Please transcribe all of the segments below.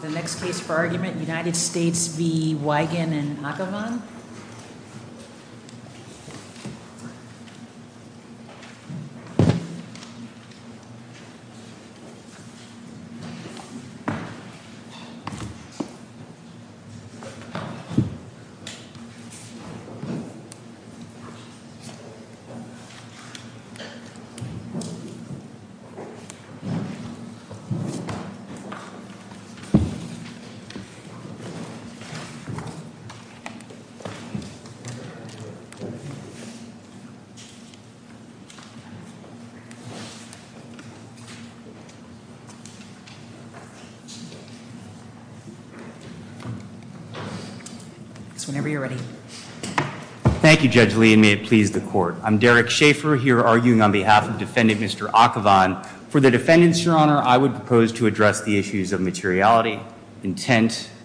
The next case for argument, United States v. Weigand and Akhavan. Thank you, Judge Lee, and may it please the Court. I'm Derek Schaffer here arguing on behalf of defendant Mr. Akhavan. For the defendants, Your Honor, I would propose to address the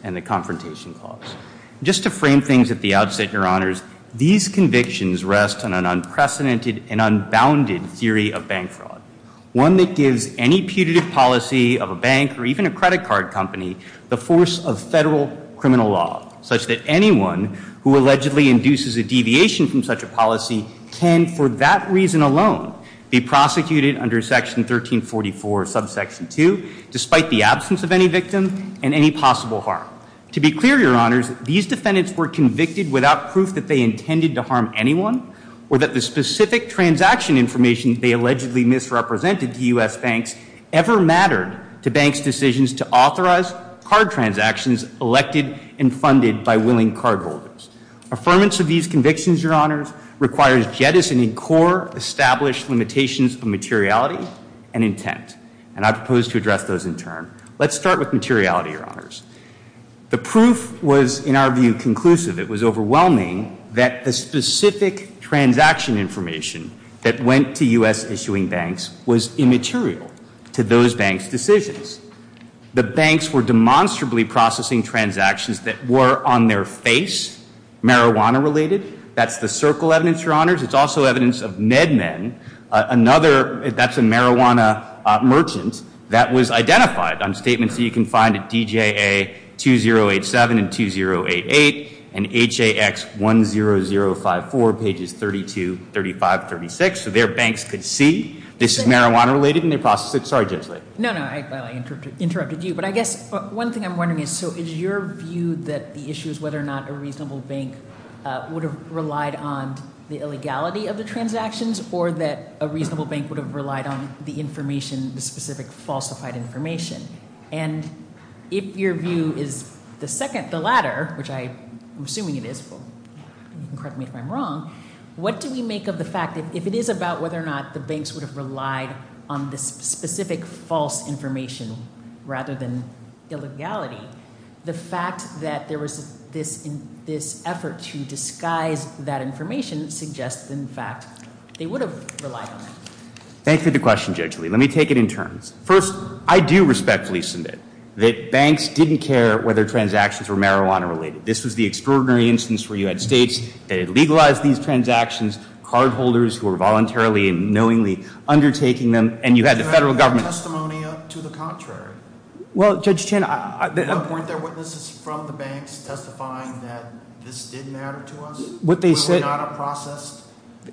and the confrontation clause. Just to frame things at the outset, Your Honors, these convictions rest on an unprecedented and unbounded theory of bank fraud, one that gives any putative policy of a bank or even a credit card company the force of federal criminal law, such that anyone who allegedly induces a deviation from such a policy can, for that reason alone, be prosecuted under Section 1344, Subsection 2, despite the absence of any victim and any possible harm. To be clear, Your Honors, these defendants were convicted without proof that they intended to harm anyone or that the specific transaction information they allegedly misrepresented to U.S. banks ever mattered to banks' decisions to authorize card transactions elected and funded by willing cardholders. Affirmance of these convictions, Your Honors, requires jettisoning core established limitations of materiality and intent, and I propose to address those in turn. Let's start with materiality, Your Honors. The proof was, in our view, conclusive. It was overwhelming that the specific transaction information that went to U.S. issuing banks was immaterial to those banks' decisions. The banks were demonstrably processing transactions that were, on their face, marijuana-related. That's the circle evidence, Your Honors. It's also evidence of MedMen, another, that's a marijuana merchant, that was identified on statements that you can find at DJA 2087 and 2088 and HAX 10054, pages 32, 35, 36, so their banks could see this is marijuana-related and they processed it. Sorry, Judge Lay. No, no, I interrupted you, but I guess one thing I'm wondering is, so is your view that the issue is whether or not a reasonable bank would have relied on the illegality of the transactions or that a reasonable bank would have relied on the information, the specific falsified information? And if your view is the second, the latter, which I'm assuming it is, but you can correct me if I'm wrong, what do we make of the fact that if it is about whether or not the banks would have relied on the specific false information rather than illegality, the fact that there was this effort to disguise that information suggests in fact they would have relied on it. Thanks for the question, Judge Lay. Let me take it in turns. First, I think it's a good instance where you had states that had legalized these transactions, cardholders who were voluntarily and knowingly undertaking them, and you had the federal government. Testimony to the contrary. Well, Judge Chin, were there witnesses from the banks testifying that this did matter to us? Would we not have processed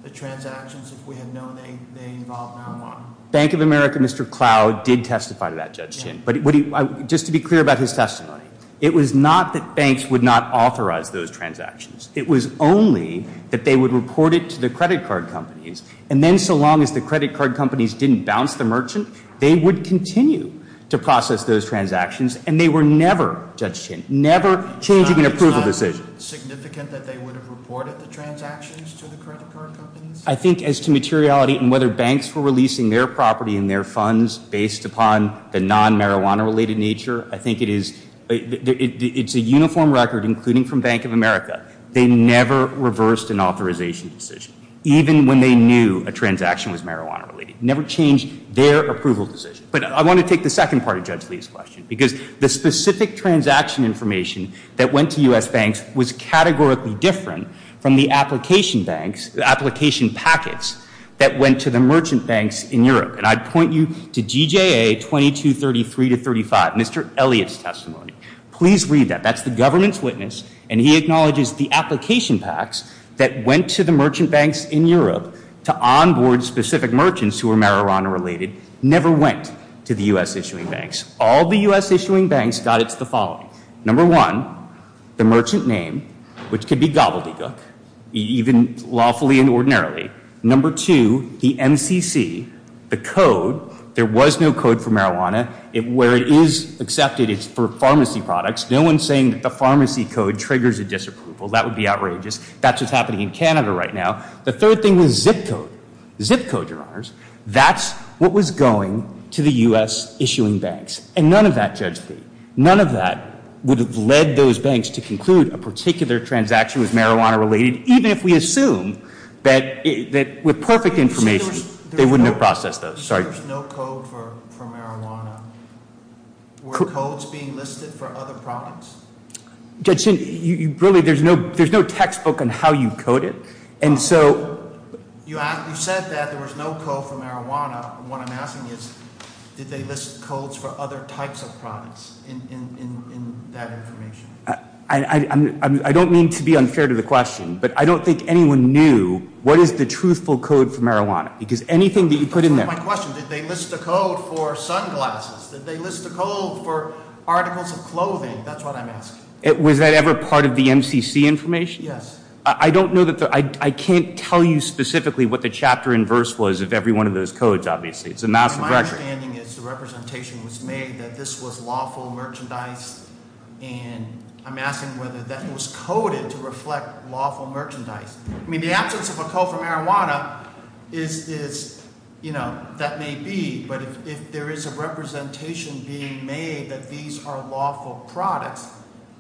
the transactions if we had known they involved marijuana? Bank of America, Mr. Cloud, did testify to that, Judge Chin. But just to be clear about his testimony, it was not that banks would not authorize those transactions. It was only that they would report it to the credit card companies, and then so long as the credit card companies didn't bounce the merchant, they would continue to process those transactions, and they were never, Judge Chin, never changing an approval decision. It's not significant that they would have reported the transactions to the credit card companies? I think as to materiality and whether banks were releasing their property and their funds based upon the non-marijuana related nature, I think it is, it's a uniform record, including from Bank of America. They never reversed an authorization decision, even when they knew a transaction was marijuana related. Never changed their approval decision. But I want to take the second part of Judge Lee's question, because the specific transaction information that went to U.S. banks was categorically different from the application banks, application packets that went to the merchant banks in Europe. And I'd point you to GJA 2233-35, Mr. Elliott's testimony. Please read that. That's the government's witness, and he acknowledges the application packs that went to the merchant banks in Europe to onboard specific merchants who were marijuana related, never went to the U.S. issuing banks. All the U.S. issuing banks got it to the following. Number one, the merchant name, which could be gobbledygook, even lawfully and ordinarily. Number two, the MCC, the code. There was no code for marijuana. Where it is accepted, it's for pharmacy products. No one's saying that the pharmacy code triggers a disapproval. That would be what was going to the U.S. issuing banks. And none of that, Judge Lee, none of that would have led those banks to conclude a particular transaction was marijuana related, even if we assume that with perfect information, they wouldn't have processed those. Sorry. Were codes being listed for other products? Judge, really, there's no textbook on how you code it. You said that there was no code for marijuana. What I'm asking is, did they list codes for other types of products in that information? I don't mean to be unfair to the question, but I don't think anyone knew what is the truthful code for marijuana. Because anything that you put in there. My question, did they list a code for sunglasses? Did they list a code for articles of clothing? That's what I'm asking. Was that ever part of the MCC information? Yes. I can't tell you specifically what the chapter and verse was of every one of those codes, obviously. My understanding is the representation was made that this was lawful merchandise, and I'm asking whether that was coded to reflect lawful merchandise. I mean, the absence of a code for marijuana is, you know, that may be, but if there is a representation being made that these are lawful products,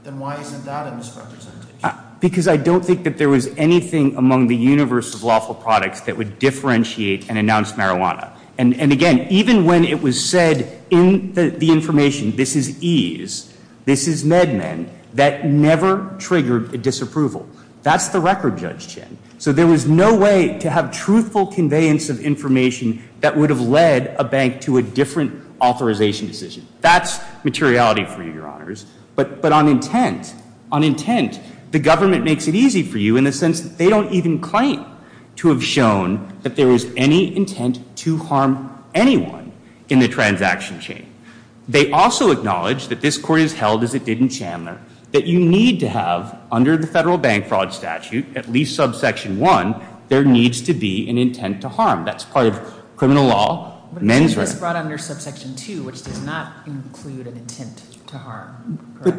then why isn't that a misrepresentation? Because I don't think that there was anything among the universe of lawful products that would differentiate and announce marijuana. And again, even when it was said in the information, this is ease, this is med men, that never triggered a disapproval. That's the record, Judge Chen. So there was no way to have truthful conveyance of information that would have led a bank to a different authorization decision. That's materiality for you, Your Honors. But on intent, on intent, the government makes it easy for you in the sense that they don't even claim to have shown that there was any intent to harm anyone in the transaction chain. They also acknowledge that this Court has held as it did in Chandler, that you need to have under the Federal Bank Fraud Statute, at least subsection one, there needs to be an intent to harm. That's part of criminal law, men's rights. But it was brought under subsection two, which does not include an intent to harm. But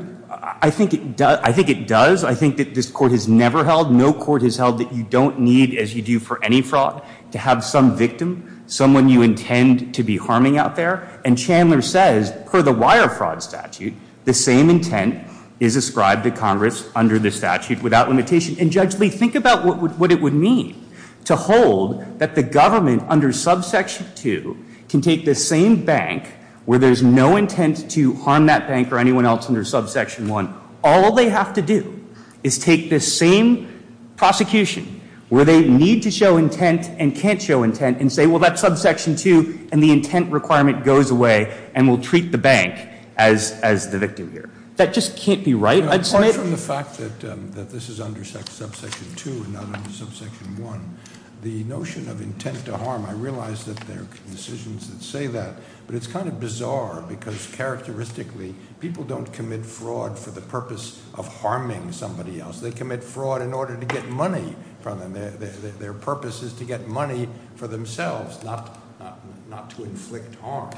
I think it does. I think that this Court has never held, no Court has held that you don't need, as you do for any fraud, to have some victim, someone you intend to be harming out there. And Chandler says, per the Wire Fraud Statute, the same intent is ascribed to Congress under the statute without limitation. And Judge Lee, think about what it would mean to hold that the government under subsection two can take the same bank where there's no intent to harm that bank or anyone else under subsection one. All they have to do is take this same prosecution where they need to show intent and can't show intent and say, well, that's subsection two, and the intent requirement goes away, and we'll treat the bank as the victim here. That just can't be right. I'd say... The fact that this is under subsection two and not under subsection one, the notion of intent to harm, I realize that there are decisions that say that, but it's kind of bizarre because characteristically people don't commit fraud for the purpose of harming somebody else. They commit fraud in order to get money from them. Their purpose is to get money for themselves, not to inflict harm.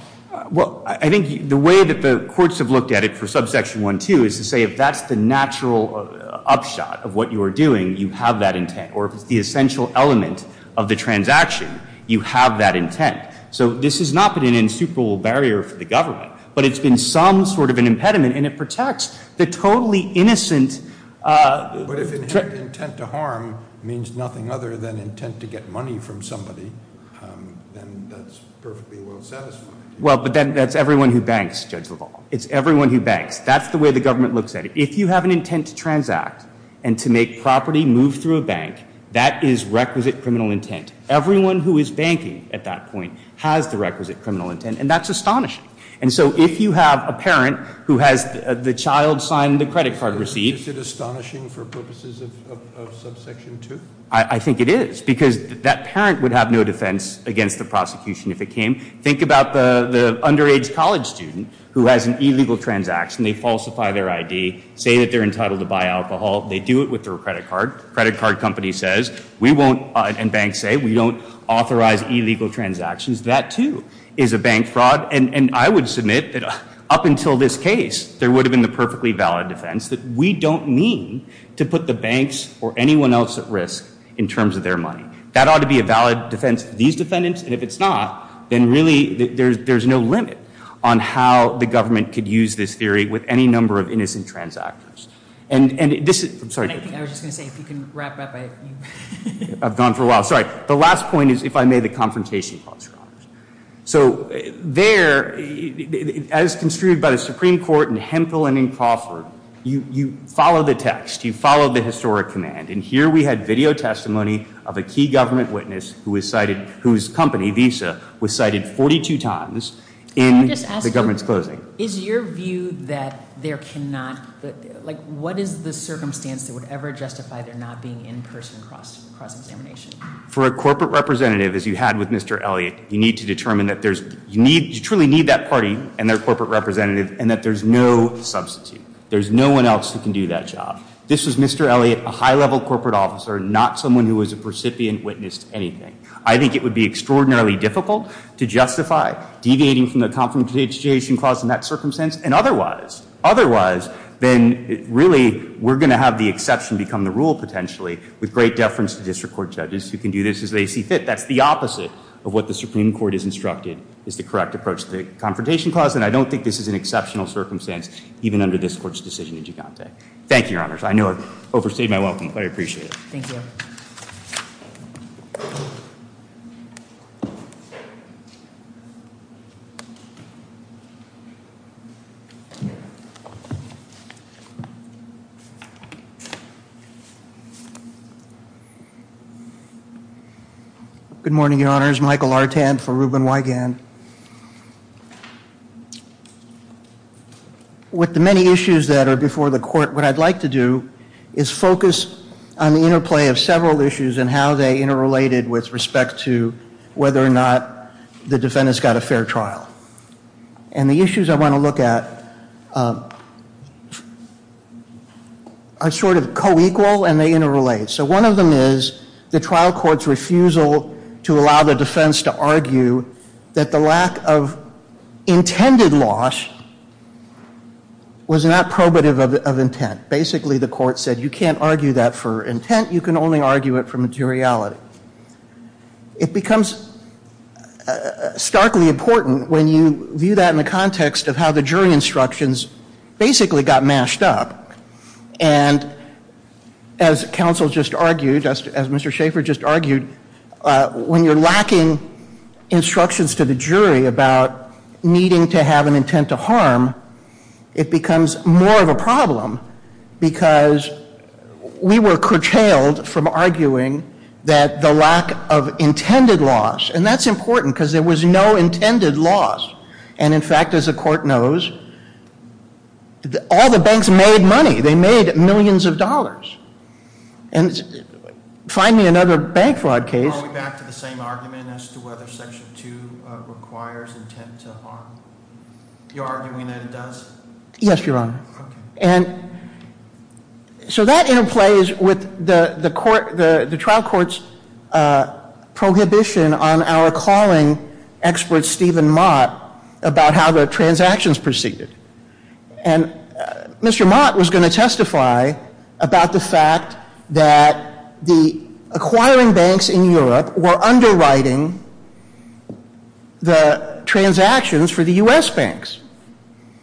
Well, I think the way that the courts have looked at it for subsection one two is to say if that's the natural upshot of what you are doing, you have that intent, or if it's the essential element of the transaction, you have that intent. So this has not been an insuperable barrier for the government, but it's been some sort of an impediment, and it protects the totally innocent... But if intent to harm means nothing other than intent to get money from somebody, then that's perfectly well satisfied. Well, but then that's everyone who banks, Judge LaValle. It's everyone who banks. That's the way the government looks at it. If you have an intent to transact and to make property move through a bank, that is requisite criminal intent. Everyone who is banking at that point has the requisite criminal intent, and that's astonishing. And so if you have a parent who has the child sign the credit card receipt... Is it astonishing for purposes of subsection two? I think it is, because that parent would have no defense against the prosecution if it came. Think about the underage college student who has an illegal transaction. They falsify their ID, say that they're entitled to buy alcohol. They do it with their credit card. Credit card company says, we won't, and banks say, we don't In this case, there would have been the perfectly valid defense that we don't mean to put the banks or anyone else at risk in terms of their money. That ought to be a valid defense of these defendants, and if it's not, then really there's no limit on how the government could use this theory with any number of innocent transactors. And this is... I'm sorry. I was just going to say, if you can wrap up... I've gone for a while. Sorry. The last point is, if I may, the confrontation clause. So there, as construed by the Supreme Court in Hemphill and in Crawford, you follow the text. You follow the historic command. And here we had video testimony of a key government witness whose company, Visa, was cited 42 times in the government's closing. Is your view that there cannot... What is the circumstance that would ever justify there not being in-person cross-examination? For a corporate representative, as you had with Mr. Elliott, you need to determine that you truly need that party and their corporate representative, and that there's no substitute. There's no one else who can do that job. This was Mr. Elliott, a high-level corporate officer, not someone who as a recipient witnessed anything. I think it would be extraordinarily difficult to justify deviating from the confrontation clause in that circumstance. And otherwise, then, really, we're going to have the exception become the rule, potentially, with great deference to District Court judges who can do this as they see fit. That's the opposite of what the Supreme Court has instructed is the correct approach to the confrontation clause. And I don't think this is an exceptional circumstance, even under this Court's decision in Gigante. Thank you, Your Honors. I know I've overstayed my welcome, but I appreciate it. Thank you. Good morning, Your Honors. Michael Artand for Rubin-Wigand. With the many issues that are before the Court, what I'd like to do is focus on the interplay of several issues and how they interrelated with respect to whether or not the defendants got a fair trial. And the issues I want to look at are sort of co-equal and they interrelate. So one of them is the trial court's refusal to allow the defense to argue that the lack of intended loss was not probative of intent. Basically, the court said you can't argue that for intent. You can only argue it for materiality. It becomes starkly important when you view that in the context of how the jury instructions basically got mashed up. And as counsel just argued, as Mr. Schaffer just argued, when you're lacking instructions to the jury about needing to have an intent to harm, it becomes more of a problem because we were curtailed from arguing that the lack of intended loss, and that's important because there was no intended loss. And in fact, as the Court knows, all the banks made money. They made millions of dollars. Find me another bank fraud case. Are we back to the same argument as to whether Section 2 requires intent to harm? You're arguing that it does? Yes, Your Honor. So that interplays with the trial court's prohibition on our calling expert Stephen Mott about how the transactions proceeded. And Mr. Mott was going to testify about the fact that the acquiring banks in Europe were underwriting the transactions for the U.S. banks.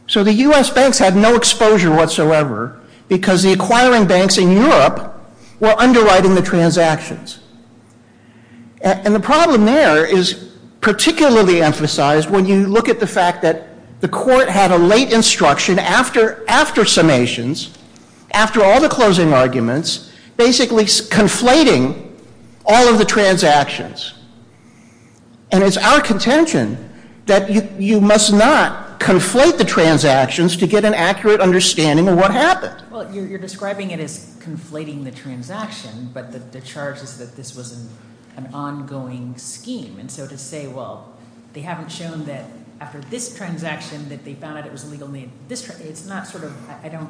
So the U.S. banks had no exposure whatsoever because the acquiring banks in Europe were underwriting the transactions. And the problem there is particularly emphasized when you look at the fact that the Court had a late instruction after summations, after all the closing arguments, basically conflating all of the transactions. And it's our contention that you must not conflate the transactions to get an accurate understanding of what happened. Well, you're describing it as conflating the transaction, but the charge is that this was an ongoing scheme. And so to say, well, they haven't shown that after this transaction that they found out it was illegal, it's not sort of, I don't...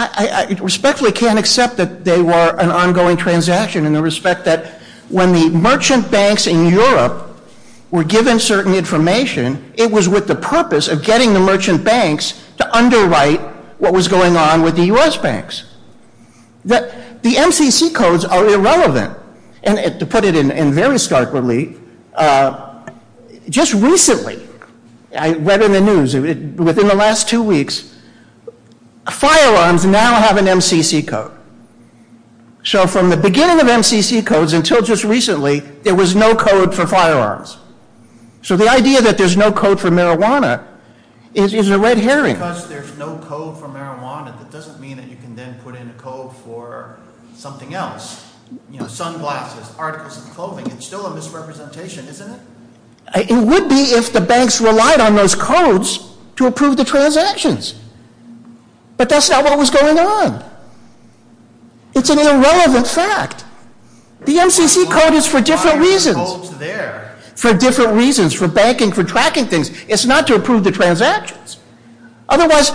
I respectfully can't accept that they were an ongoing transaction in the respect that when the merchant banks in Europe were given certain information, it was with the purpose of getting the merchant banks to underwrite what was going on with the U.S. banks. The MCC codes are irrelevant. And to put it in terms of within the last two weeks, firearms now have an MCC code. So from the beginning of MCC codes until just recently, there was no code for firearms. So the idea that there's no code for marijuana is a red herring. Because there's no code for marijuana, that doesn't mean that you can then put in a code for something else. You know, sunglasses, articles of clothing. It's still a misrepresentation, isn't it? It would be if the banks relied on those codes to approve the transactions. But that's not what was going on. It's an irrelevant fact. The MCC code is for different reasons. For different reasons. For banking, for tracking things. It's not to approve the transactions. Otherwise,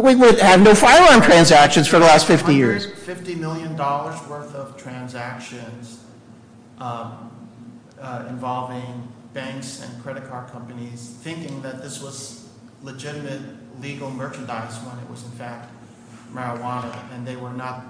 we would have no firearm transactions for the last 50 years. There were $50 million worth of transactions involving banks and credit card companies thinking that this was legitimate legal merchandise when it was in fact marijuana. And they were not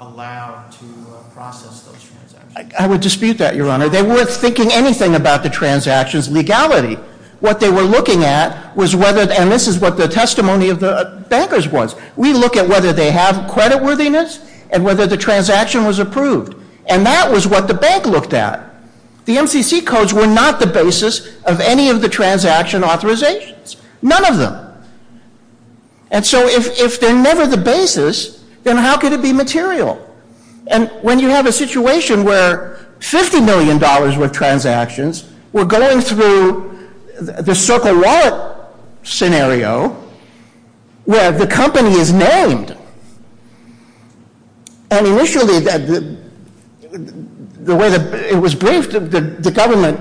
allowed to process those transactions. I would dispute that, Your Honor. They weren't thinking anything about the transactions' legality. What they were looking at was whether, and this is what the testimony of the bankers was, we look at whether they have credit worthiness and whether the transaction was approved. And that was what the bank looked at. The MCC codes were not the basis of any of the transaction authorizations. None of them. And so if they're never the basis, then how could it be material? And when you have a situation where $50 million worth of transactions were going through the Circle Wallet scenario where the company is named. And initially, the way it was briefed, the government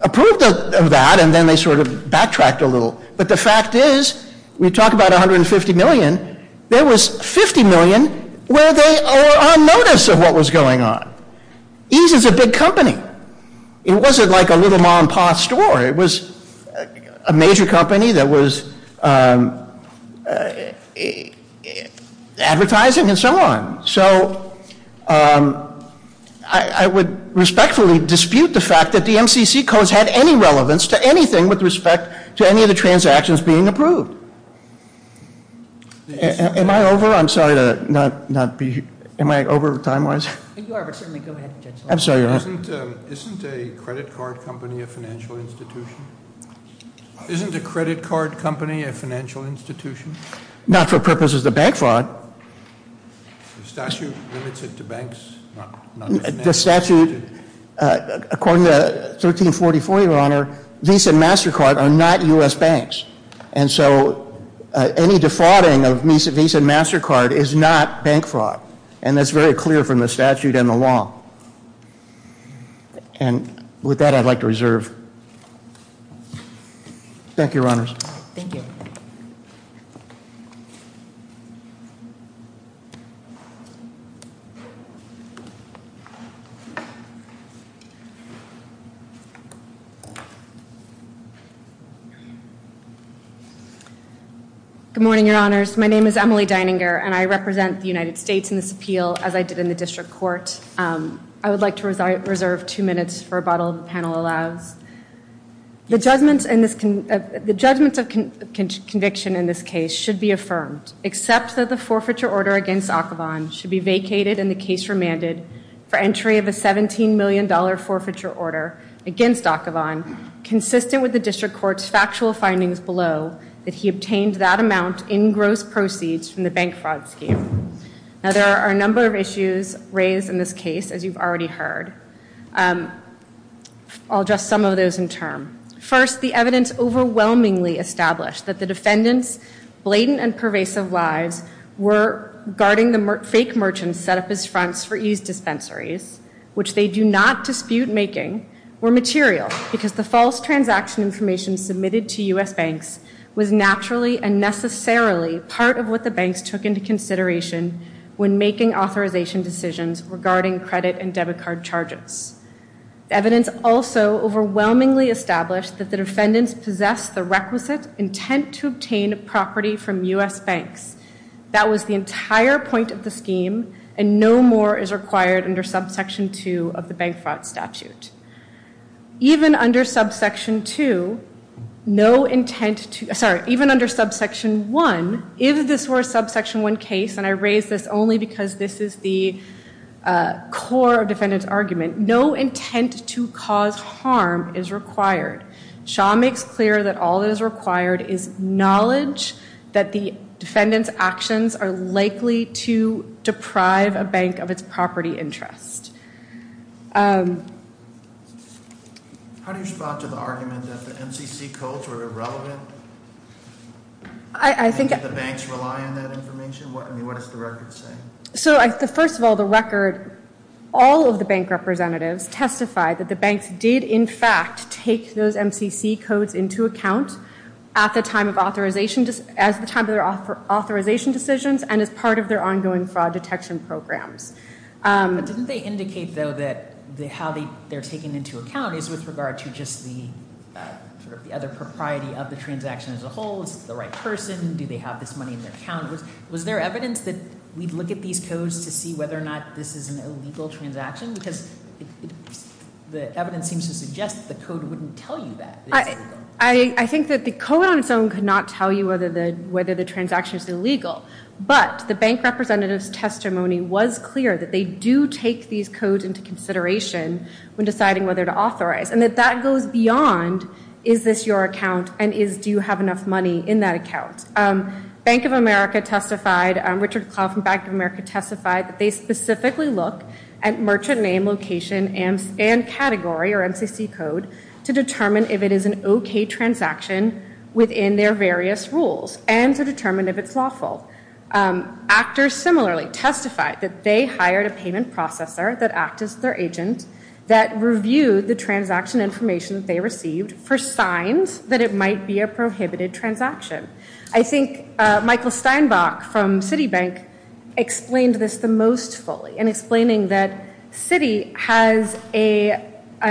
approved of that and then they sort of backtracked a little. But the fact is, we talk about $150 million, there was $50 million where they were on notice of what was going on. Ease is a big company. It wasn't like a little mom paw store. It was a major company that was advertising and so on. So I would respectfully dispute the fact that the MCC codes had any relevance to anything with respect to any of the transactions being approved. Am I over? I'm sorry to not be. Am I over time-wise? You are, but certainly go ahead. I'm sorry. Isn't a credit card company a financial institution? Isn't a credit card company a financial institution? Not for purposes of bank fraud. The statute limits it to banks? According to 1344, your Honor, Visa and MasterCard are not U.S. banks. And so any defrauding of Visa and MasterCard is not bank fraud. And that's very clear from the statute and the law. And with that, I'd like to reserve. Thank you, Your Honors. Good morning, Your Honors. My name is Emily Dininger and I represent the United States in this appeal as I did in the District Court. I would like to reserve two minutes for rebuttal if the panel allows. The judgment of conviction in this case should be affirmed, except that the forfeiture order against Akhavan should be vacated and the case remanded for entry of a $17 million forfeiture order against Akhavan consistent with the District Court's factual findings below that he obtained that amount in gross proceeds from the bank fraud scheme. Now, there are a number of issues raised in this case, as you've already heard. I'll address some of those in turn. First, the evidence overwhelmingly established that the defendant's blatant and pervasive lives were guarding the fake merchants set up as fronts for eased dispensaries, which they do not was naturally and necessarily part of what the banks took into consideration when making authorization decisions regarding credit and debit card charges. Evidence also overwhelmingly established that the defendants possessed the requisite intent to obtain property from U.S. banks. That was the entire point of the scheme and no more is required under subsection 2 of the bank fraud statute. Even under subsection 2, no intent to, sorry, even under subsection 1, if this were a subsection 1 case, and I raise this only because this is the core of defendant's argument, no intent to cause harm is required. Shaw makes clear that all that is required is knowledge that the defendant's actions are likely to deprive a bank of its property interest. How do you respond to the argument that the MCC codes were irrelevant? Do the banks rely on that information? What does the record say? First of all, the record, all of the bank representatives testified that the banks did in fact take those MCC codes into account at the time of authorization decisions and as part of their ongoing fraud detection programs. But didn't they indicate, though, that how they're taken into account is with regard to just the other propriety of the transaction as a whole? Is it the right person? Do they have this money in their account? Was there evidence that we'd look at these codes to see whether or not this is an illegal transaction? I think that the code on its own could not tell you whether the transaction is illegal. But the bank representative's testimony was clear that they do take these codes into consideration when deciding whether to authorize. And that that goes beyond, is this your account and do you have enough money in that account? Bank of America testified, Richard Clough from Bank of America testified that they specifically look at merchant name, location, and category or MCC code to determine if it is an okay transaction within their various rules and to determine if it's lawful. Actors similarly testified that they hired a payment processor that acted as their agent that reviewed the transaction information they received for signs that it might be a prohibited transaction. I think Michael Steinbach from Citibank explained this the most fully in explaining that Citi has a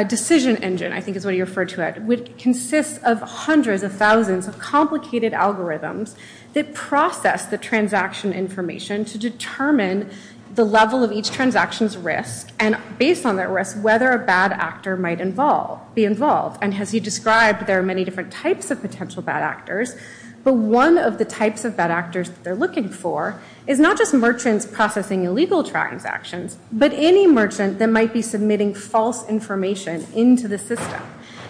decision engine, I think is what he referred to it, which consists of hundreds of thousands of complicated algorithms that process the transaction information to determine the level of each transaction's risk and based on that risk, whether a bad actor, but one of the types of bad actors they're looking for is not just merchants processing illegal transactions, but any merchant that might be submitting false information into the system.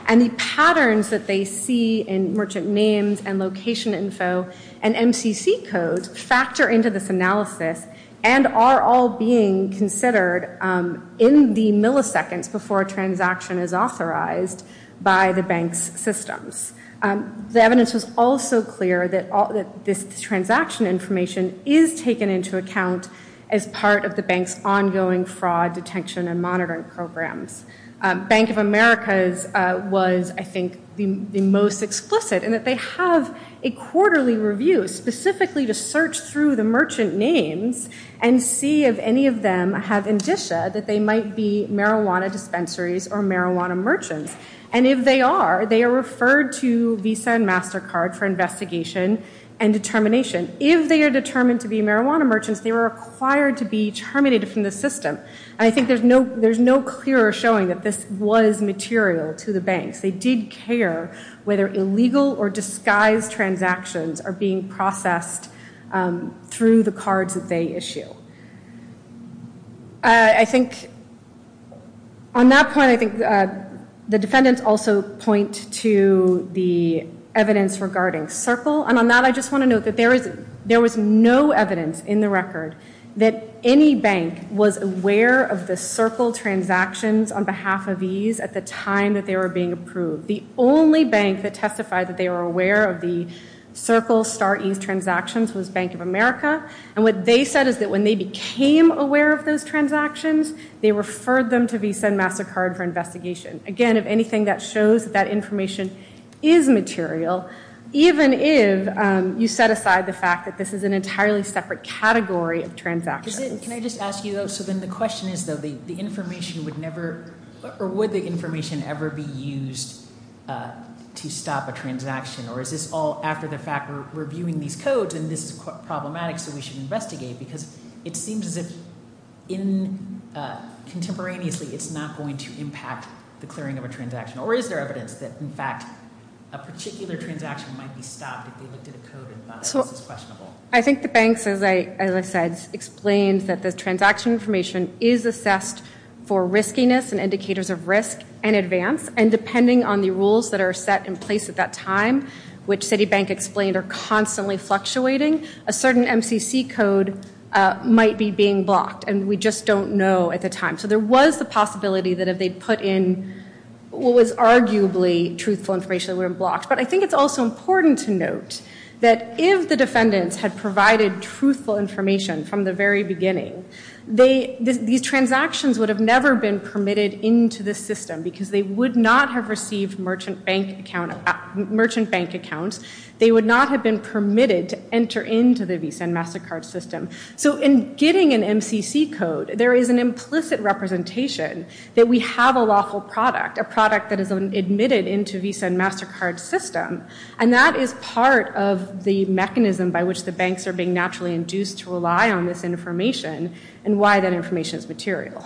And the patterns that they see in merchant names and location info and MCC code factor into this analysis and are all being considered in the milliseconds before a transaction is authorized by the bank's systems. The evidence was also clear that this transaction information is taken into account as part of the bank's ongoing fraud detection and monitoring programs. Bank of America's was I think the most explicit in that they have a quarterly review specifically to search through the merchant names and see if any of them have indicia that they might be marijuana dispensaries or marijuana merchants. And if they are, they are referred to Visa and MasterCard for investigation and determination. If they are determined to be marijuana merchants, they were required to be terminated from the system. And I think there's no clearer showing that this was material to the banks. They did not care whether illegal or disguised transactions are being processed through the cards that they issue. I think on that point, I think the defendants also point to the evidence regarding Circle. And on that, I just want to note that there was no evidence in the record that any bank was aware of the Circle transactions on behalf of Ease at the time that they were being approved. The only bank that testified that they were aware of the Circle Star Ease transactions was Bank of America. And what they said is that when they became aware of those transactions, they referred them to Visa and MasterCard for investigation. Again, if anything that shows that that information is material, even if you set aside the fact that this is an entirely separate category of transactions. Can I just ask you though, so then the question is though, the information would never, or would the information ever be used to stop a transaction? Or is this all after the fact we're reviewing these codes and this is problematic so we should investigate? Because it seems as if in contemporaneously, it's not going to impact the clearing of a transaction. Or is there evidence that in fact, a particular transaction might be stopped if they looked at a code and thought this is questionable? I think the banks, as I said, explained that the transaction information is assessed for riskiness and indicators of risk and advance. And depending on the rules that are set in place at that time, which Citibank explained are constantly fluctuating, a certain MCC code might be being blocked. And we just don't know at the time. So there was the possibility that if they put in what was arguably truthful information, they were blocked. But I think it's also important to note that if the defendants had provided truthful information from the very beginning, these transactions would have never been permitted into the system because they would not have received merchant bank accounts. They would not have been permitted to enter into the Visa and MasterCard system. So in getting an MCC code, there is an implicit representation that we have a lawful product, a product that is admitted into Visa and MasterCard system. And that is part of the mechanism by which the banks are being naturally induced to rely on this information and why that information is material.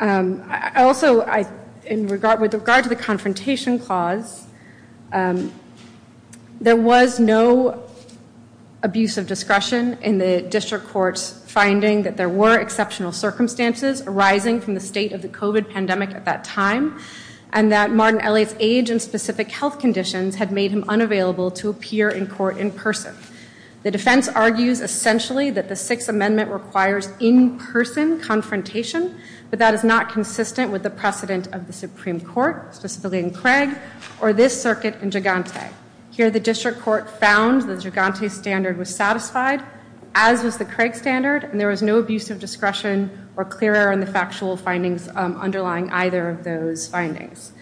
Also, with regard to the confrontation clause, there was no abuse of discretion in the district court's finding that there were exceptional circumstances arising from the state of the COVID pandemic at that time and that Martin Elliott's age and specific health conditions had made him unavailable to appear in court in person. The defense argues essentially that the Sixth Amendment requires in-person confrontation, but that is not consistent with the precedent of the Supreme Court, specifically in Craig or this circuit in Gigante. Here, the district court found the Gigante standard was satisfied, as was the Craig standard, and there was no abuse of discretion or clear error in the factual findings underlying either of those findings.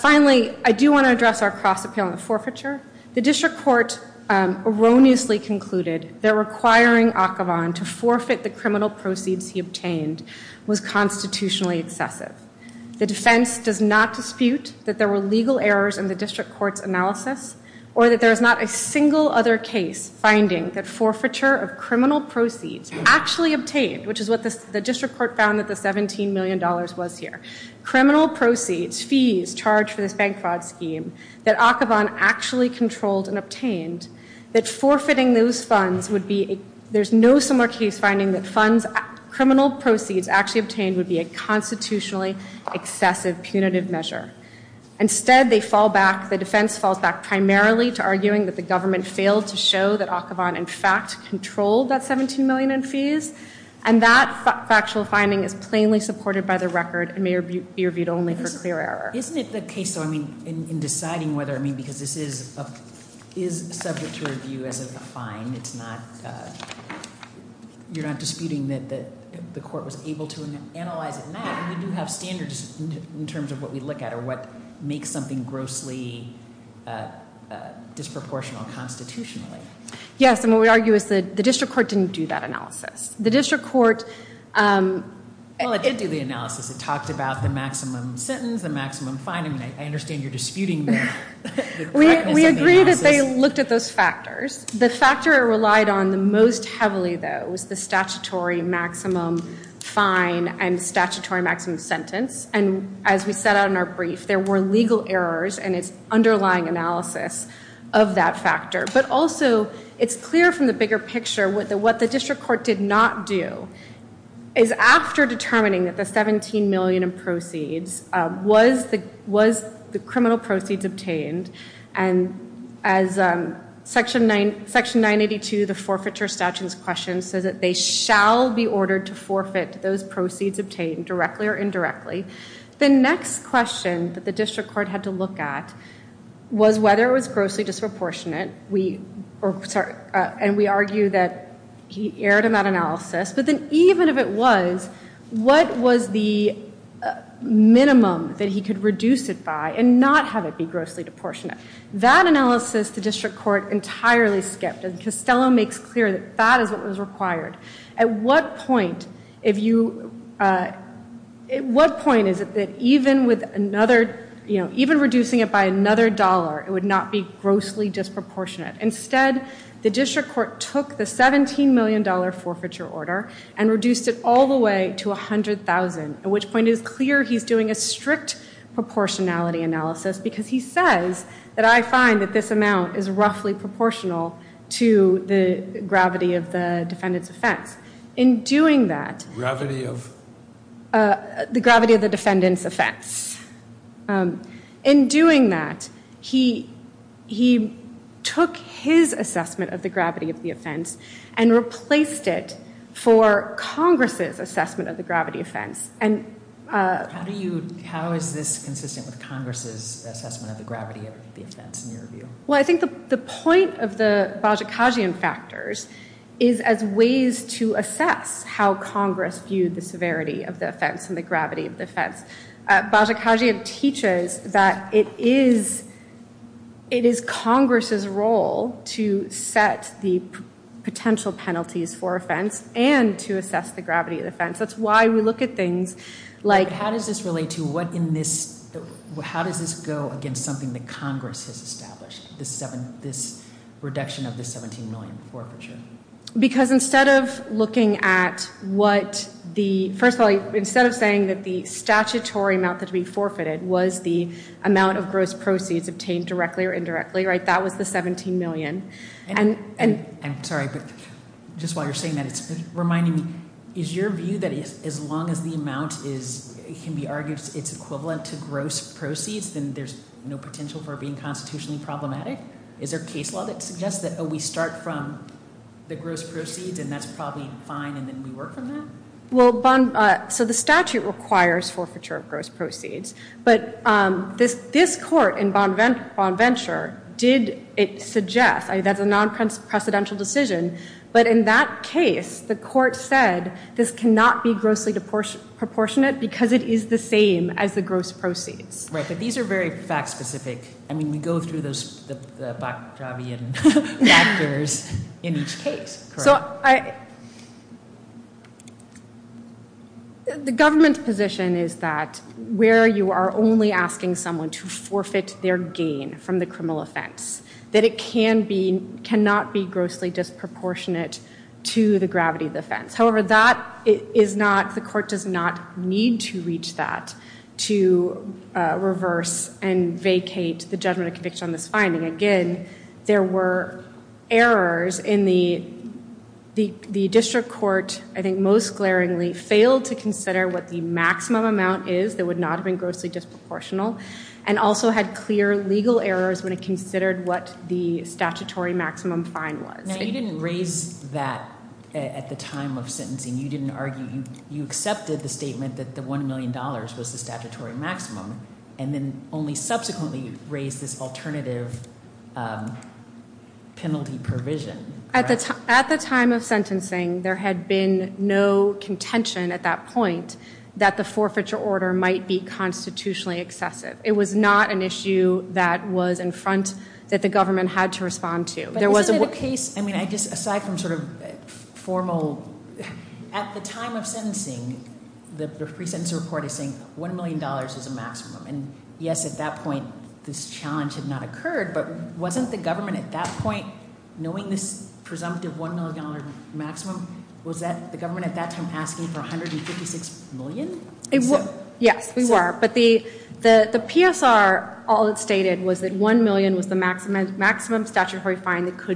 Finally, I do want to address our cross-appeal on the forfeiture. The district court erroneously concluded that requiring Akhavan to forfeit the criminal proceeds he obtained was constitutionally excessive. The defense does not dispute that there were legal errors in the district court's analysis or that there is not a single other case finding that forfeiture of criminal proceeds actually obtained, which is what the district court found that the $17 million was here, criminal proceeds, fees charged for this bank fraud scheme that Akhavan actually controlled and obtained, that forfeiting those funds would be a, there's no similar case finding that funds, criminal proceeds actually obtained would be a constitutionally excessive punitive measure. Instead, they fall back, the defense falls back primarily to arguing that the government failed to show that Akhavan, in fact, controlled that $17 million in fees, and that factual finding is plainly supported by the record and may be reviewed only for clear error. Isn't it the case, though, I mean, in deciding whether, I mean, because this is subject to review as a fine, it's not, you're not disputing that the court was able to analyze it? We do have standards in terms of what we look at or what makes something grossly disproportional constitutionally. Yes, and what we argue is that the district court didn't do that analysis. The district court. Well, it did do the analysis. It talked about the maximum sentence, the maximum fine. I mean, I understand you're disputing the correctness of the analysis. We agree that they looked at those factors. The factor it relied on the most heavily, though, was the statutory maximum fine and statutory maximum sentence. And as we set out in our brief, there were legal errors in its underlying analysis of that factor. But also, it's clear from the bigger picture what the district court did not do is after determining that the $17 million in proceeds, was the criminal proceeds obtained? And as section 982, the forfeiture statutes question says that they shall be ordered to forfeit those proceeds obtained directly or indirectly. The next question that the district court had to look at was whether it was grossly disproportionate. And we argue that he erred in that analysis. But then even if it was, what was the minimum that he could reduce it by and not have it be grossly disproportionate? That analysis the district court entirely skipped. And Costello makes clear that that is what was required. At what point, if you at what point is it that even with another, you know, even reducing it by another dollar, it would not be grossly disproportionate? Instead, the district court took the $17 million forfeiture order and reduced it all the way to $100,000. At which point it is clear he's doing a strict proportionality analysis because he says that I find that this amount is roughly proportional to the gravity of the defendant's offense. In doing that, he took his assessment of the gravity of the offense and replaced it for Congress' assessment of the gravity of the offense. How is this consistent with Congress' assessment of the gravity of the offense in your view? Well, I think the point of the Bozsikagian factors is as ways to assess how Congress viewed the severity of the offense and the gravity of the offense. Bozsikagian teaches that it is Congress' role to set the potential penalties for offense and to assess the gravity of the offense. That's why we look at things How does this relate to, how does this go against something that Congress has established? This reduction of the $17 million forfeiture? Because instead of looking at what the, first of all, instead of saying that the statutory amount that would be forfeited was the amount of gross proceeds obtained directly or indirectly, that was the $17 million. I'm sorry, but just while you're saying that, it's reminding me, is your view that as long as the amount can be argued it's equivalent to gross proceeds, then there's no potential for it being constitutionally problematic? Is there a case law that suggests that we start from the gross proceeds and that's probably fine and then we work from that? Well, so the statute requires forfeiture of gross proceeds. But this court in Bonventure did suggest, that's a non-precedential decision, but in that case the court said this cannot be grossly proportionate because it is the same as the gross proceeds. Right, but these are very fact specific. I mean, we go through those factors in each case. The government's position is that where you are only asking someone to forfeit their gain from the criminal offense, that it cannot be grossly disproportionate to the gravity of the offense. However, that is not, the court does not need to reach that to reverse and the district court, I think most glaringly, failed to consider what the maximum amount is that would not have been grossly disproportional and also had clear legal errors when it considered what the statutory maximum fine was. Now you didn't raise that at the time of sentencing. You didn't argue you accepted the statement that the one million dollars was the statutory maximum and then only subsequently raised this alternative penalty provision. At the time of sentencing there had been no contention at that point that the forfeiture order might be constitutionally excessive. It was not an issue that was in front that the government had to respond to. But isn't it a case, I mean aside from sort of formal, at the time of sentencing the pre-sentence report is saying one million dollars is a maximum and yes at that point this challenge had not occurred, but wasn't the government at that point, knowing this presumptive one million dollar maximum, was the government at that time asking for 156 million? Yes, we were. But the PSR, all it stated was that one million was the maximum statutory fine that was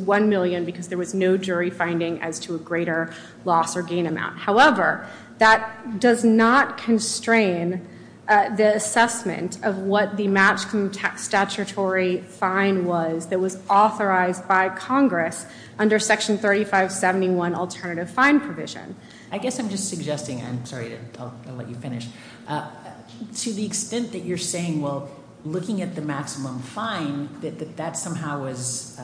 one million because there was no jury finding as to a greater loss or gain amount. However, that does not constrain the assessment of what the maximum statutory fine was that was authorized by Congress under section 3571 alternative fine provision. I guess I'm just suggesting, I'm sorry I'll let you finish, to the extent that you're saying well looking at the maximum fine that that somehow was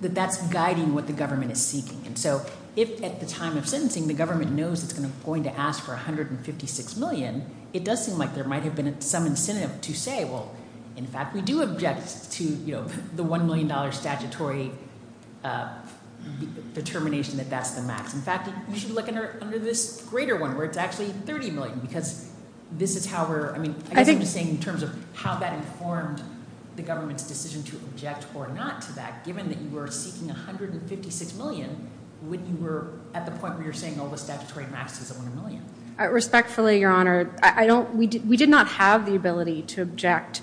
that's guiding what the government is seeking. And so if at the time of sentencing the government knows it's going to ask for 156 million, it does seem like there might have been some incentive to say well in fact we do object to the one million dollar statutory determination that that's the I guess I'm just saying in terms of how that informed the government's decision to object or not to that given that you were seeking 156 million when you were at the point where you're saying oh the statutory maximum is one million. Respectfully, your honor, we did not have the ability to object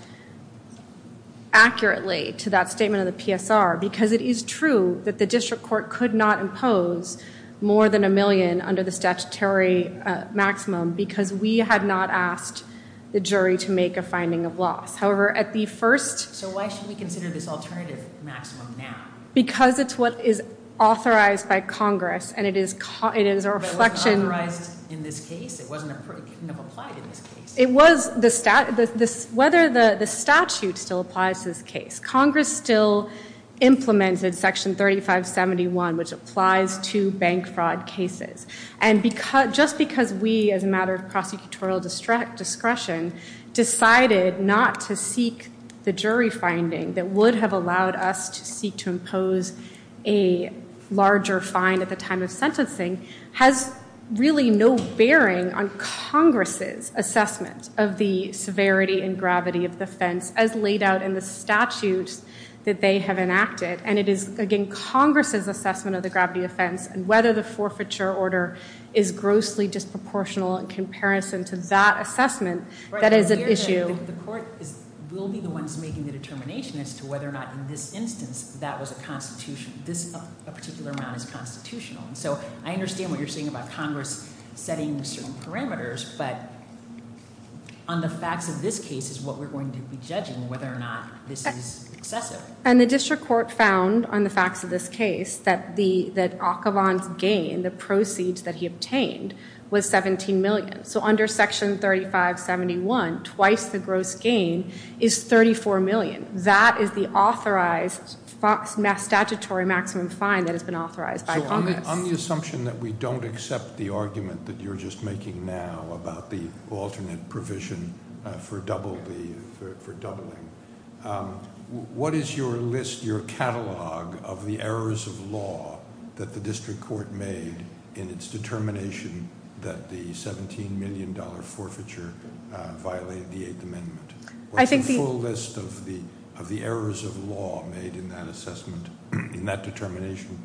accurately to that statement of the PSR because it is true that the district court could not impose more than a million under the statutory maximum because we had not asked the jury to make a finding of loss. However, at the first... So why should we consider this alternative maximum now? Because it's what is authorized by Congress and it is a reflection... But it wasn't authorized in this case? It couldn't have applied in this case? It was, whether the statute still applies Congress still implemented section 3571 which applies to bank fraud cases and just because we as a matter of prosecutorial discretion decided not to seek the jury finding that would have allowed us to seek to impose a larger fine at the time of sentencing has really no bearing on the statutes that they have enacted and it is again Congress' assessment of the gravity offense and whether the forfeiture order is grossly disproportional in comparison to that assessment that is an issue. The court will be the ones making the determination as to whether or not in this instance that was a constitution, this particular amount is constitutional. So I understand what you're saying about Congress setting certain parameters, but on the facts of this case is what we're going to be judging whether or not this is excessive. And the district court found on the facts of this case that Akhavan's gain, the proceeds that he obtained was $17 million. So under section 3571 twice the gross gain is $34 million. That is the authorized statutory maximum fine that has been authorized by Congress. So on the assumption that we don't accept the argument that you're just making now about the alternate provision for doubling what is your list, your catalog of the errors of law that the district court made in its determination that the $17 million forfeiture violated the 8th amendment? What's the full list of the errors of law made in that assessment, in that determination?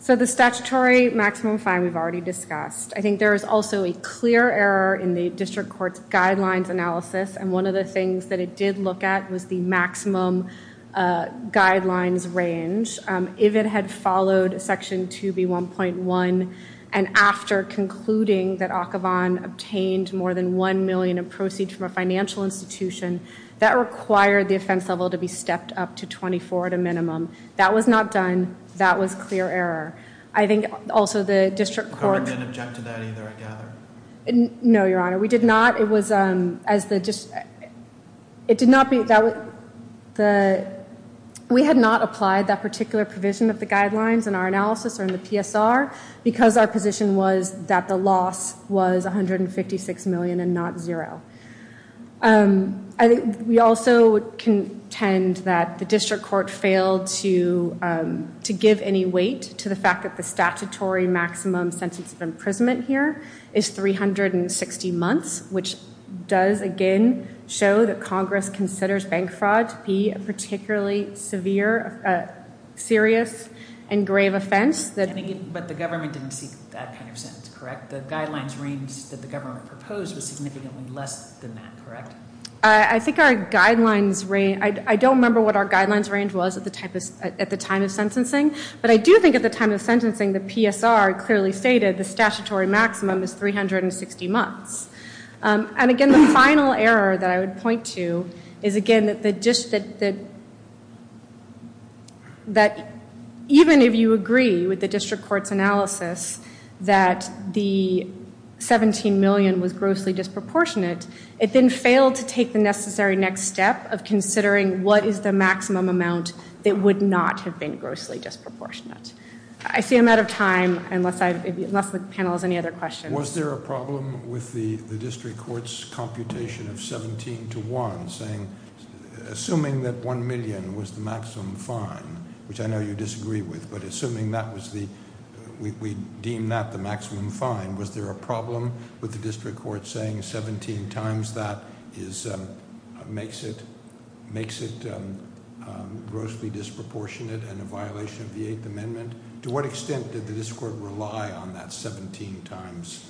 So the statutory maximum fine we've already discussed. I think there is also a clear error in the district court's guidelines analysis and one of the things that it did look at was the maximum guidelines range. If it had followed section 2B1.1 and after concluding that Akhavan obtained more than $1 million in proceeds from a financial institution, that required the offense level to be stepped up to $24 at a minimum. That was not done. That was clear error. I think also the district court... The government didn't object to that either, I gather. No, Your Honor. We did not. It was as the... It did not be... We had not applied that particular provision of the guidelines in our analysis or in the PSR because our position was that the loss was $156 million and not zero. We also contend that the district court failed to give any weight to the fact that the statutory maximum sentence of bank fraud to be a particularly severe, serious and grave offense. But the government didn't seek that kind of sentence, correct? The guidelines range that the government proposed was significantly less than that, correct? I think our guidelines range... I don't remember what our guidelines range was at the time of sentencing, but I do think at the time of sentencing the PSR clearly stated the statutory maximum is 360 months. And again, the final error that I would point to is again that the... That even if you agree with the district court's analysis that the $17 million was grossly disproportionate, it then failed to take the necessary next step of considering what is the maximum amount that would not have been grossly disproportionate. I see I'm out of time unless the panel has any other questions. Was there a problem with the district court's computation of 17 to 1 saying... Assuming that $1 million was the maximum fine, which I know you disagree with, but assuming that was the... We deemed that the maximum fine, was there a problem with the district court saying 17 times that makes it grossly disproportionate and a violation of the Eighth Amendment? To what extent did the district court rely on that 17 times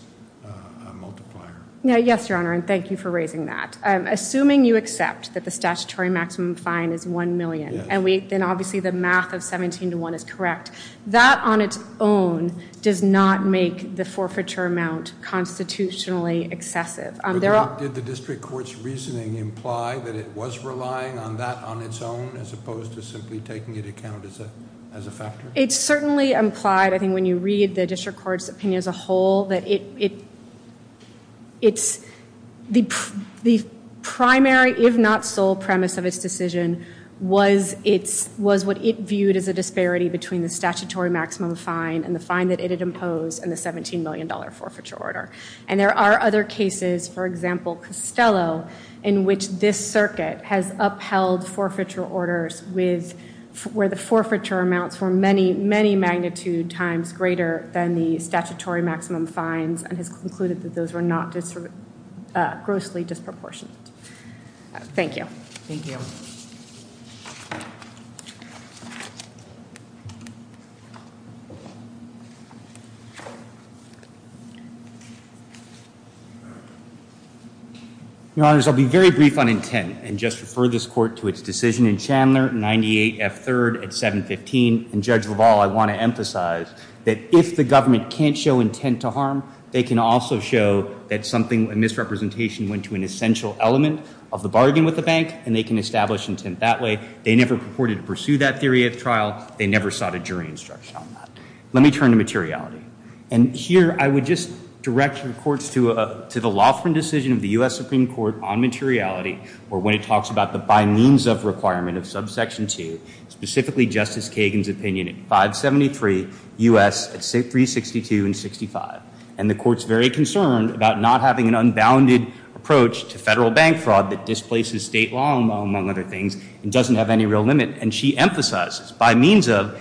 multiplier? Yes, Your Honor, and thank you for raising that. Assuming you accept that the statutory maximum fine is $1 million, and obviously the math of 17 to 1 is correct, that on its own does not make the forfeiture amount constitutionally excessive. Did the district court's reasoning imply that it was relying on that on its own as opposed to simply taking it account as a factor? It certainly implied, I think when you read the district court's opinion as a whole, that it's... The primary if not sole premise of its decision was what it viewed as a disparity between the statutory maximum fine and the fine that it had imposed and the $17 million forfeiture order. And there are other cases for example, Costello, in which this circuit has upheld forfeiture orders where the forfeiture amounts were many, many magnitude times greater than the statutory maximum fines and has concluded that those were not grossly disproportionate. Thank you. Thank you. Your Honors, I'll be very brief on intent and just refer this court to its decision in Chandler, 98F3rd at 715. And Judge LaValle, I want to emphasize that if the government can't show intent to harm, they can also show that something, a misrepresentation went to an essential element of the bargain with the bank, and they can establish intent that way. They never purported to pursue that theory of trial. They never sought a jury instruction on that. Let me turn to materiality. And here I would just direct your courts to the law firm decision of the U.S. Supreme Court on materiality, or when it talks about the by means of requirement of subsection 2, specifically Justice Kagan's opinion at 573 U.S. at 362 and 65. And the court's very concerned about not having an unbounded approach to federal bank fraud that displaces state law, among other things, and doesn't have any real limit. And she emphasizes, by means of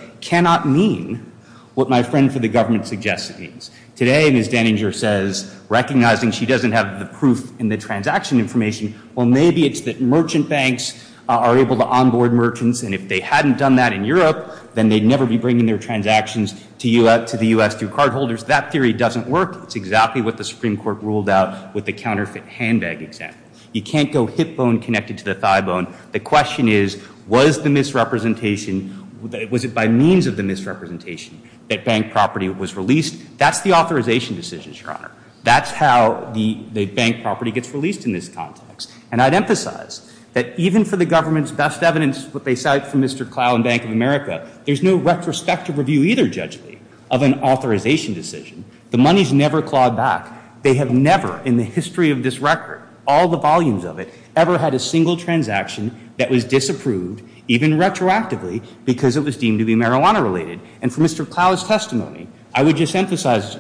mean what my friend for the government suggests it means. Today, Ms. Denninger says, recognizing she doesn't have the proof in the transaction information, well, maybe it's that merchant banks are able to onboard merchants, and if they hadn't done that in Europe, then they'd never be bringing their transactions to the U.S. through cardholders. That theory doesn't work. It's exactly what the Supreme Court ruled out with the counterfeit handbag example. You can't go hip bone connected to the thigh bone. The question is, was the misrepresentation, was it by means of the misrepresentation that bank property was released? That's the authorization decision, Your Honor. That's how the bank property gets released in this context. And I'd emphasize that even for the government's best evidence, what they cite from Mr. Clough in Bank of America, there's no retrospective review either, judgely, of an authorization decision. The money's never, in the history of this record, all the volumes of it, ever had a single transaction that was disapproved, even retroactively, because it was deemed to be marijuana related. And for Mr. Clough's testimony, I would just emphasize,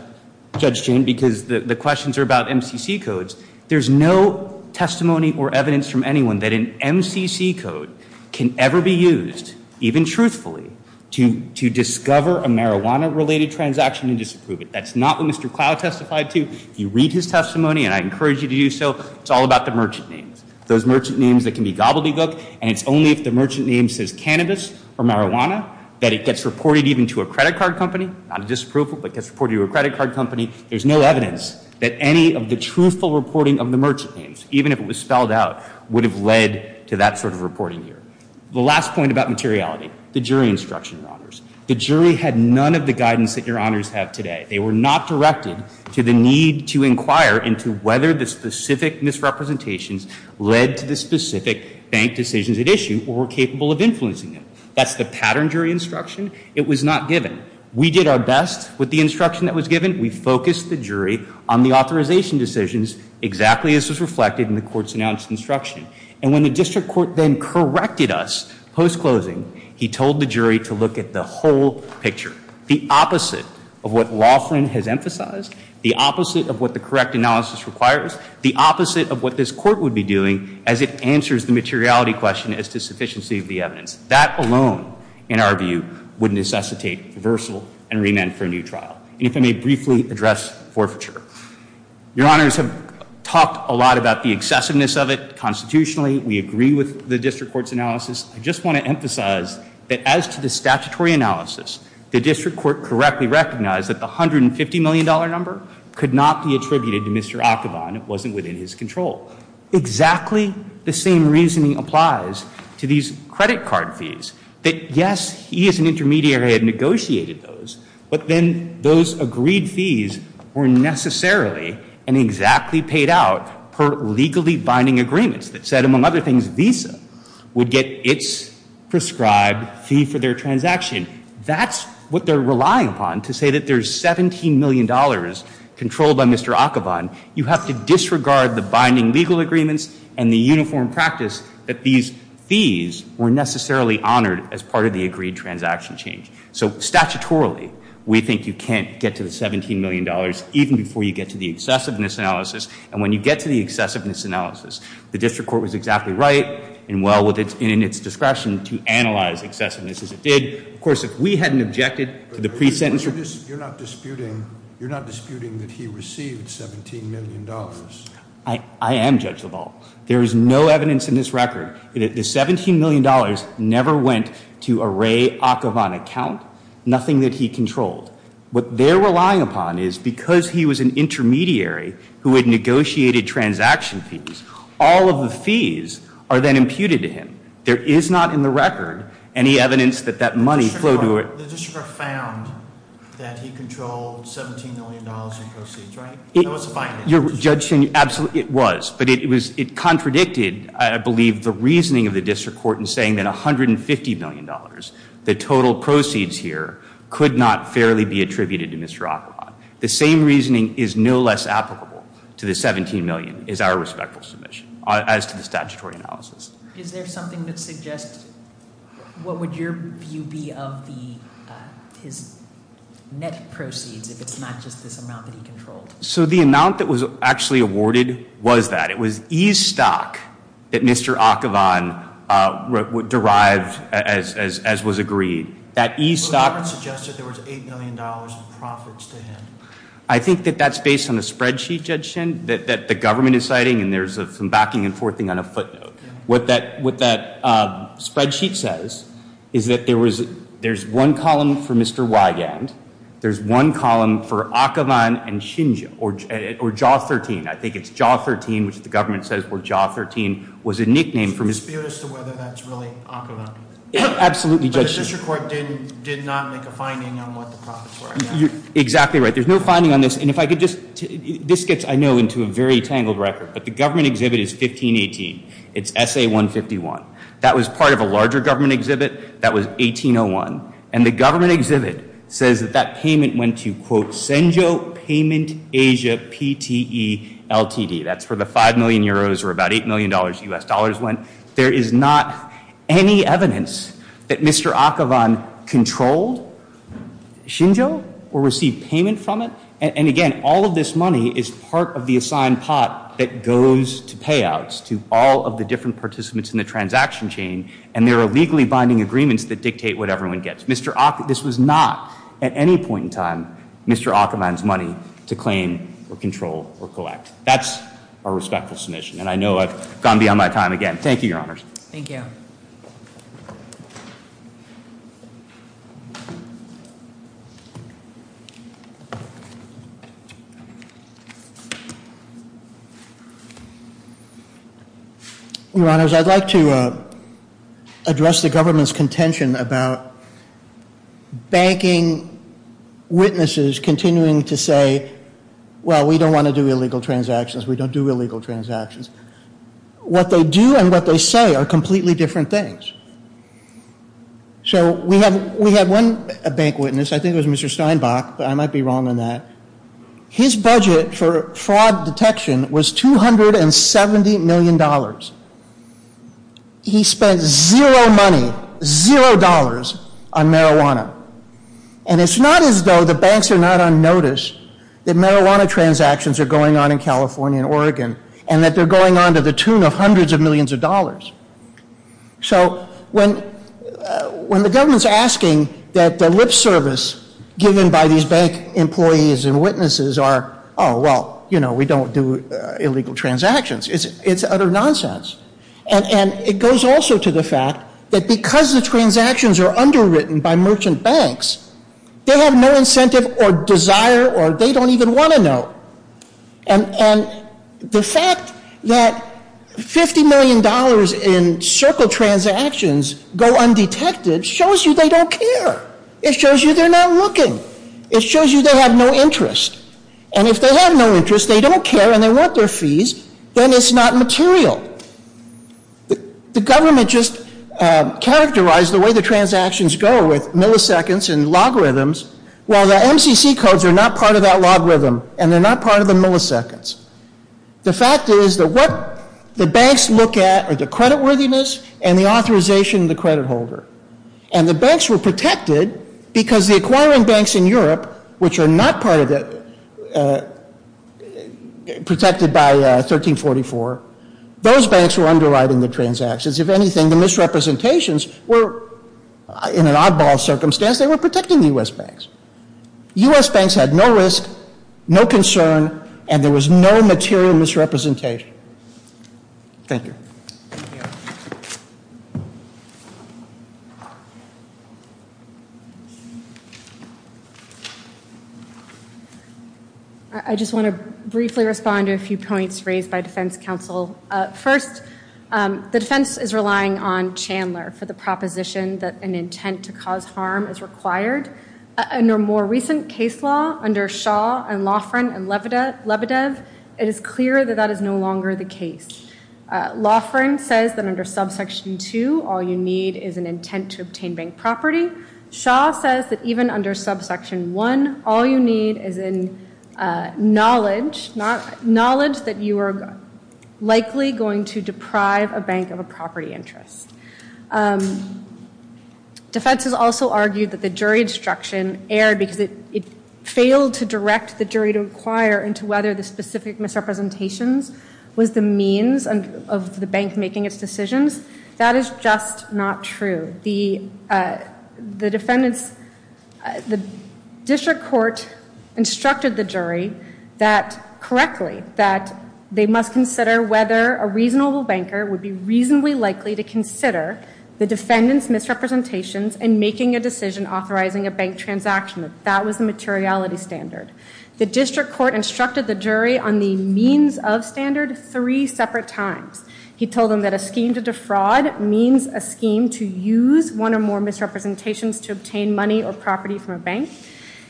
Judge Chain, because the questions are about MCC codes, there's no testimony or evidence from anyone that an MCC code can ever be used, even truthfully, to discover a marijuana related transaction and disapprove it. That's not what Mr. Clough testified to. If you read his testimony, and I encourage you to do so, it's all about the merchant names. Those merchant names that can be gobbledygook, and it's only if the merchant name says cannabis or marijuana that it gets reported even to a credit card company, not a disapproval, but gets reported to a credit card company. There's no evidence that any of the truthful reporting of the merchant names, even if it was spelled out, would have led to that sort of reporting here. The last point about materiality, the jury instruction, Your Honors. The jury had none of the guidance that Your Honors have today. They were not directed to the need to inquire into whether the specific misrepresentations led to the specific bank decisions at issue or were capable of influencing them. That's the pattern jury instruction. It was not given. We did our best with the instruction that was given. We focused the jury on the authorization decisions exactly as was reflected in the court's announced instruction. And when the district court then corrected us post-closing, he told the jury to look at the whole picture, the opposite of what Laughlin has emphasized, the opposite of what the correct analysis requires, the opposite of what this court would be doing as it answers the materiality question as to sufficiency of the evidence. That alone, in our view, would necessitate reversal and remand for a new trial. And if I may briefly address forfeiture. Your Honors have talked a lot about the excessiveness of it constitutionally. We agree with the district court's analysis. I just want to emphasize that as to the statutory analysis, the district court correctly recognized that the $150 million number could not be attributed to Mr. Ackabon. It wasn't within his control. Exactly the same reasoning applies to these credit card fees that, yes, he as an intermediary had negotiated those, but then those agreed fees were necessarily and exactly paid out per legally binding agreements that said, among other things, Visa would get its prescribed fee for their transaction. That's what they're relying upon to say that there's $17 million controlled by Mr. Ackabon. You have to disregard the binding legal agreements and the uniform practice that these fees were necessarily honored as part of the agreed transaction change. So statutorily, we think you can't get to the $17 million even before you get to the excessiveness analysis. And when you get to the excessiveness analysis, the district court was exactly right and well within its discretion to analyze excessiveness as it did. Of course, if we hadn't objected to the pre-sentence... You're not disputing that he received $17 million? I am, Judge LaValle. There is no evidence in this record that the $17 million never went to a Ray Ackabon account, nothing that he controlled. What they're relying upon is because he was an intermediary who had negotiated transaction fees, all of the fees are then imputed to him. There is not in the record any evidence that that money flowed to a... The district court found that he controlled $17 million in proceeds, right? That was a binding decision. Absolutely, it was. But it contradicted, I believe, the reasoning of the district court in saying that $150 million, the total proceeds here, could not fairly be attributed to Mr. Ackabon. The same reasoning is no less applicable to the $17 million as our respectful submission, as to the statutory analysis. Is there something that suggests... What would your view be of his net proceeds if it's not just this amount that he controlled? So the amount that was actually awarded was that. It was e-stock that Mr. Ackabon derived as was agreed. That e-stock... The record suggested there was $8 million in profits to him. I think that that's based on the spreadsheet, Judge Shin, that the government is citing, and there's some backing and forthing on a footnote. What that spreadsheet says is that there's one column for Mr. Wygand, there's one column for Ackabon and Shinji, or Jaw 13. I think it's Jaw 13, which the government says where Jaw 13 was a nickname for Mr. Ackabon. But the district court did not make a finding on what the profits were. Exactly right. There's no finding on this, and if I could just... This gets, I know, into a very tangled record, but the government exhibit, that was 1801. And the government exhibit says that that payment went to, quote, Senjo Payment Asia PTE LTD. That's where the 5 million euros, or about $8 million US dollars went. There is not any evidence that Mr. Ackabon controlled Shinjo, or received payment from it. And again, all of this money is part of the assigned pot that goes to payouts to all of the different participants in the transaction chain, and there are legally binding agreements that dictate what everyone gets. This was not, at any point in time, Mr. Ackabon's money to claim, or control, or collect. That's a respectful submission, and I know I've gone beyond my time again. Thank you, Your Honors. Thank you. Your Honors, I'd like to address the government's contention about banking witnesses continuing to say, well, we don't want to do illegal transactions, we don't do illegal transactions. What they do and what they say are completely different things. So, we have one bank witness, I think it was Mr. Steinbach, but I might be wrong on that. His budget for fraud detection was $270 million. He spent zero money, zero dollars, on marijuana. And it's not as though the banks are not on notice that marijuana transactions are going on in California and Oregon, and that they're going on to the tune of hundreds of millions of dollars. So, when the government's asking that the lip service given by these bank employees and witnesses are, oh, well, you know, we don't do illegal transactions, it's utter nonsense. And it goes also to the fact that because the transactions are underwritten by merchant banks, they have no incentive or desire or they don't even want to know. And the fact that $50 million in circle transactions go undetected shows you they don't care. It shows you they're not looking. It shows you they have no interest. And if they have no interest, they don't care and they want their fees, then it's not material. The government just is not part of that logarithm and they're not part of the milliseconds. The fact is that what the banks look at are the credit worthiness and the authorization of the credit holder. And the banks were protected because the acquiring banks in Europe, which are not protected by 1344, those banks were underwriting the transactions. If anything, the misrepresentations were, in an oddball circumstance, they were protecting the U.S. banks. U.S. banks had no risk, no concern, and there was no material misrepresentation. Thank you. I just want to briefly respond to a few points raised by defense counsel. First, the defense is relying on Chandler for the proposition that an intent to cause harm is required. In a more recent case law, under Shaw and Loughran and Lebedev, it is clear that that is no longer the case. Loughran says that under subsection 2, all you need is an intent to obtain bank property. Shaw says that even under subsection 1, all you need is knowledge that you are likely going to deprive a bank of a property interest. Defense has also argued that the jury instruction erred because it failed to direct the jury to inquire into whether the specific misrepresentations was the means of the bank making its decisions. That is just not true. The district court instructed the jury correctly that they must consider whether a reasonable banker would be reasonably likely to consider the defendant's misrepresentations in making a decision authorizing a bank transaction. That was the materiality standard. The district court instructed the jury on the means of standard three separate times. He told them that a scheme to defraud means a scheme to use one or more misrepresentations to obtain money or property from a bank.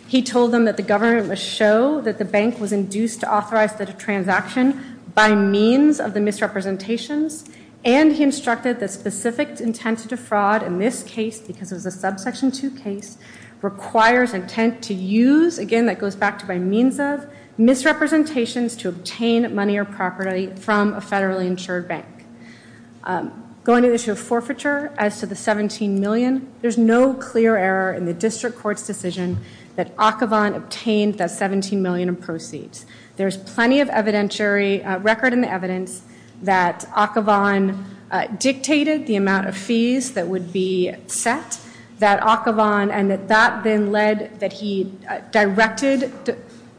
He told them that the government must show that the bank was induced to authorize the transaction by means of the misrepresentations. And he instructed that specific intent to defraud in this case, because it was a subsection 2 case, requires intent to use, again that goes back to by means of, misrepresentations to obtain money or property from a federally insured bank. Going to the issue of forfeiture as to the $17 million, there's no clear error in the district court's decision that Akhavan obtained the $17 million in proceeds. There's plenty of evidentiary record in the evidence that Akhavan dictated the amount of fees that would be set. That Akhavan, and that that then led that he directed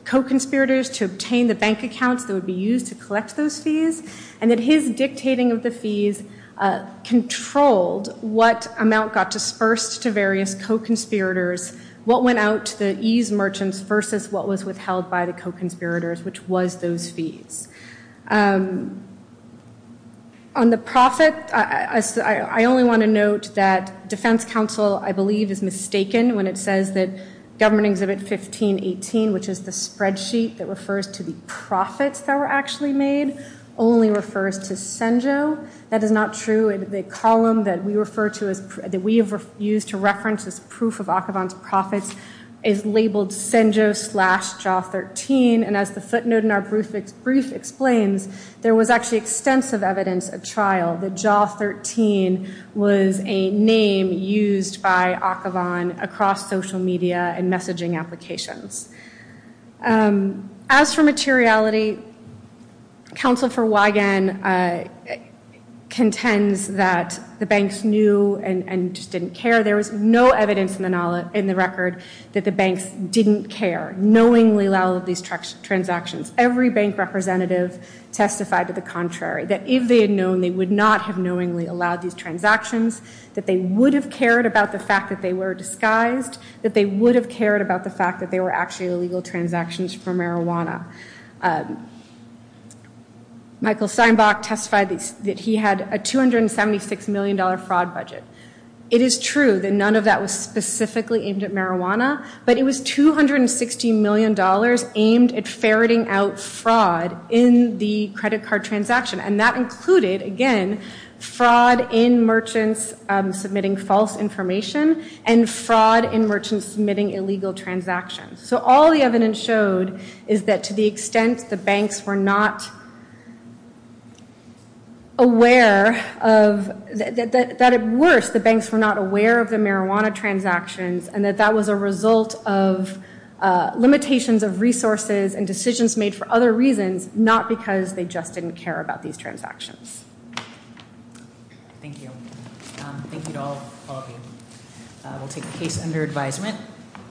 co-conspirators to obtain the bank accounts that would be used to collect those fees. And that his dictating of the fees controlled what amount got dispersed to various co-conspirators. What went out to the eased merchants versus what was withheld by the co-conspirators, which was those fees. On the profit, I only want to note that defense counsel, I believe, is mistaken when it says that government exhibit 1518, which is the spreadsheet that refers to the profits that were actually made, only refers to Senjo. That is not true. The column that we refer to as, that we and as the footnote in our brief explains, there was actually extensive evidence at trial that jaw 13 was a name used by Akhavan across social media and messaging applications. As for materiality, counsel for Wigan contends that the banks knew and just allowed these transactions. Every bank representative testified to the contrary. That if they had known, they would not have knowingly allowed these transactions. That they would have cared about the fact that they were disguised. That they would have cared about the fact that they were actually illegal transactions for marijuana. Michael Seinbach testified that he had a $276 million fraud budget. It is true that none of that was specifically aimed at marijuana, but it was $260 million aimed at ferreting out fraud in the credit card transaction. And that included, again, fraud in merchants submitting false information and fraud in merchants submitting illegal transactions. So all the evidence showed is that to the extent the banks were not aware of, that at worst the banks were not aware of the marijuana transactions and that that was a result of limitations of resources and decisions made for other reasons, not because they just didn't care about these transactions. Thank you. Thank you to all of you. We'll take the case under advisement.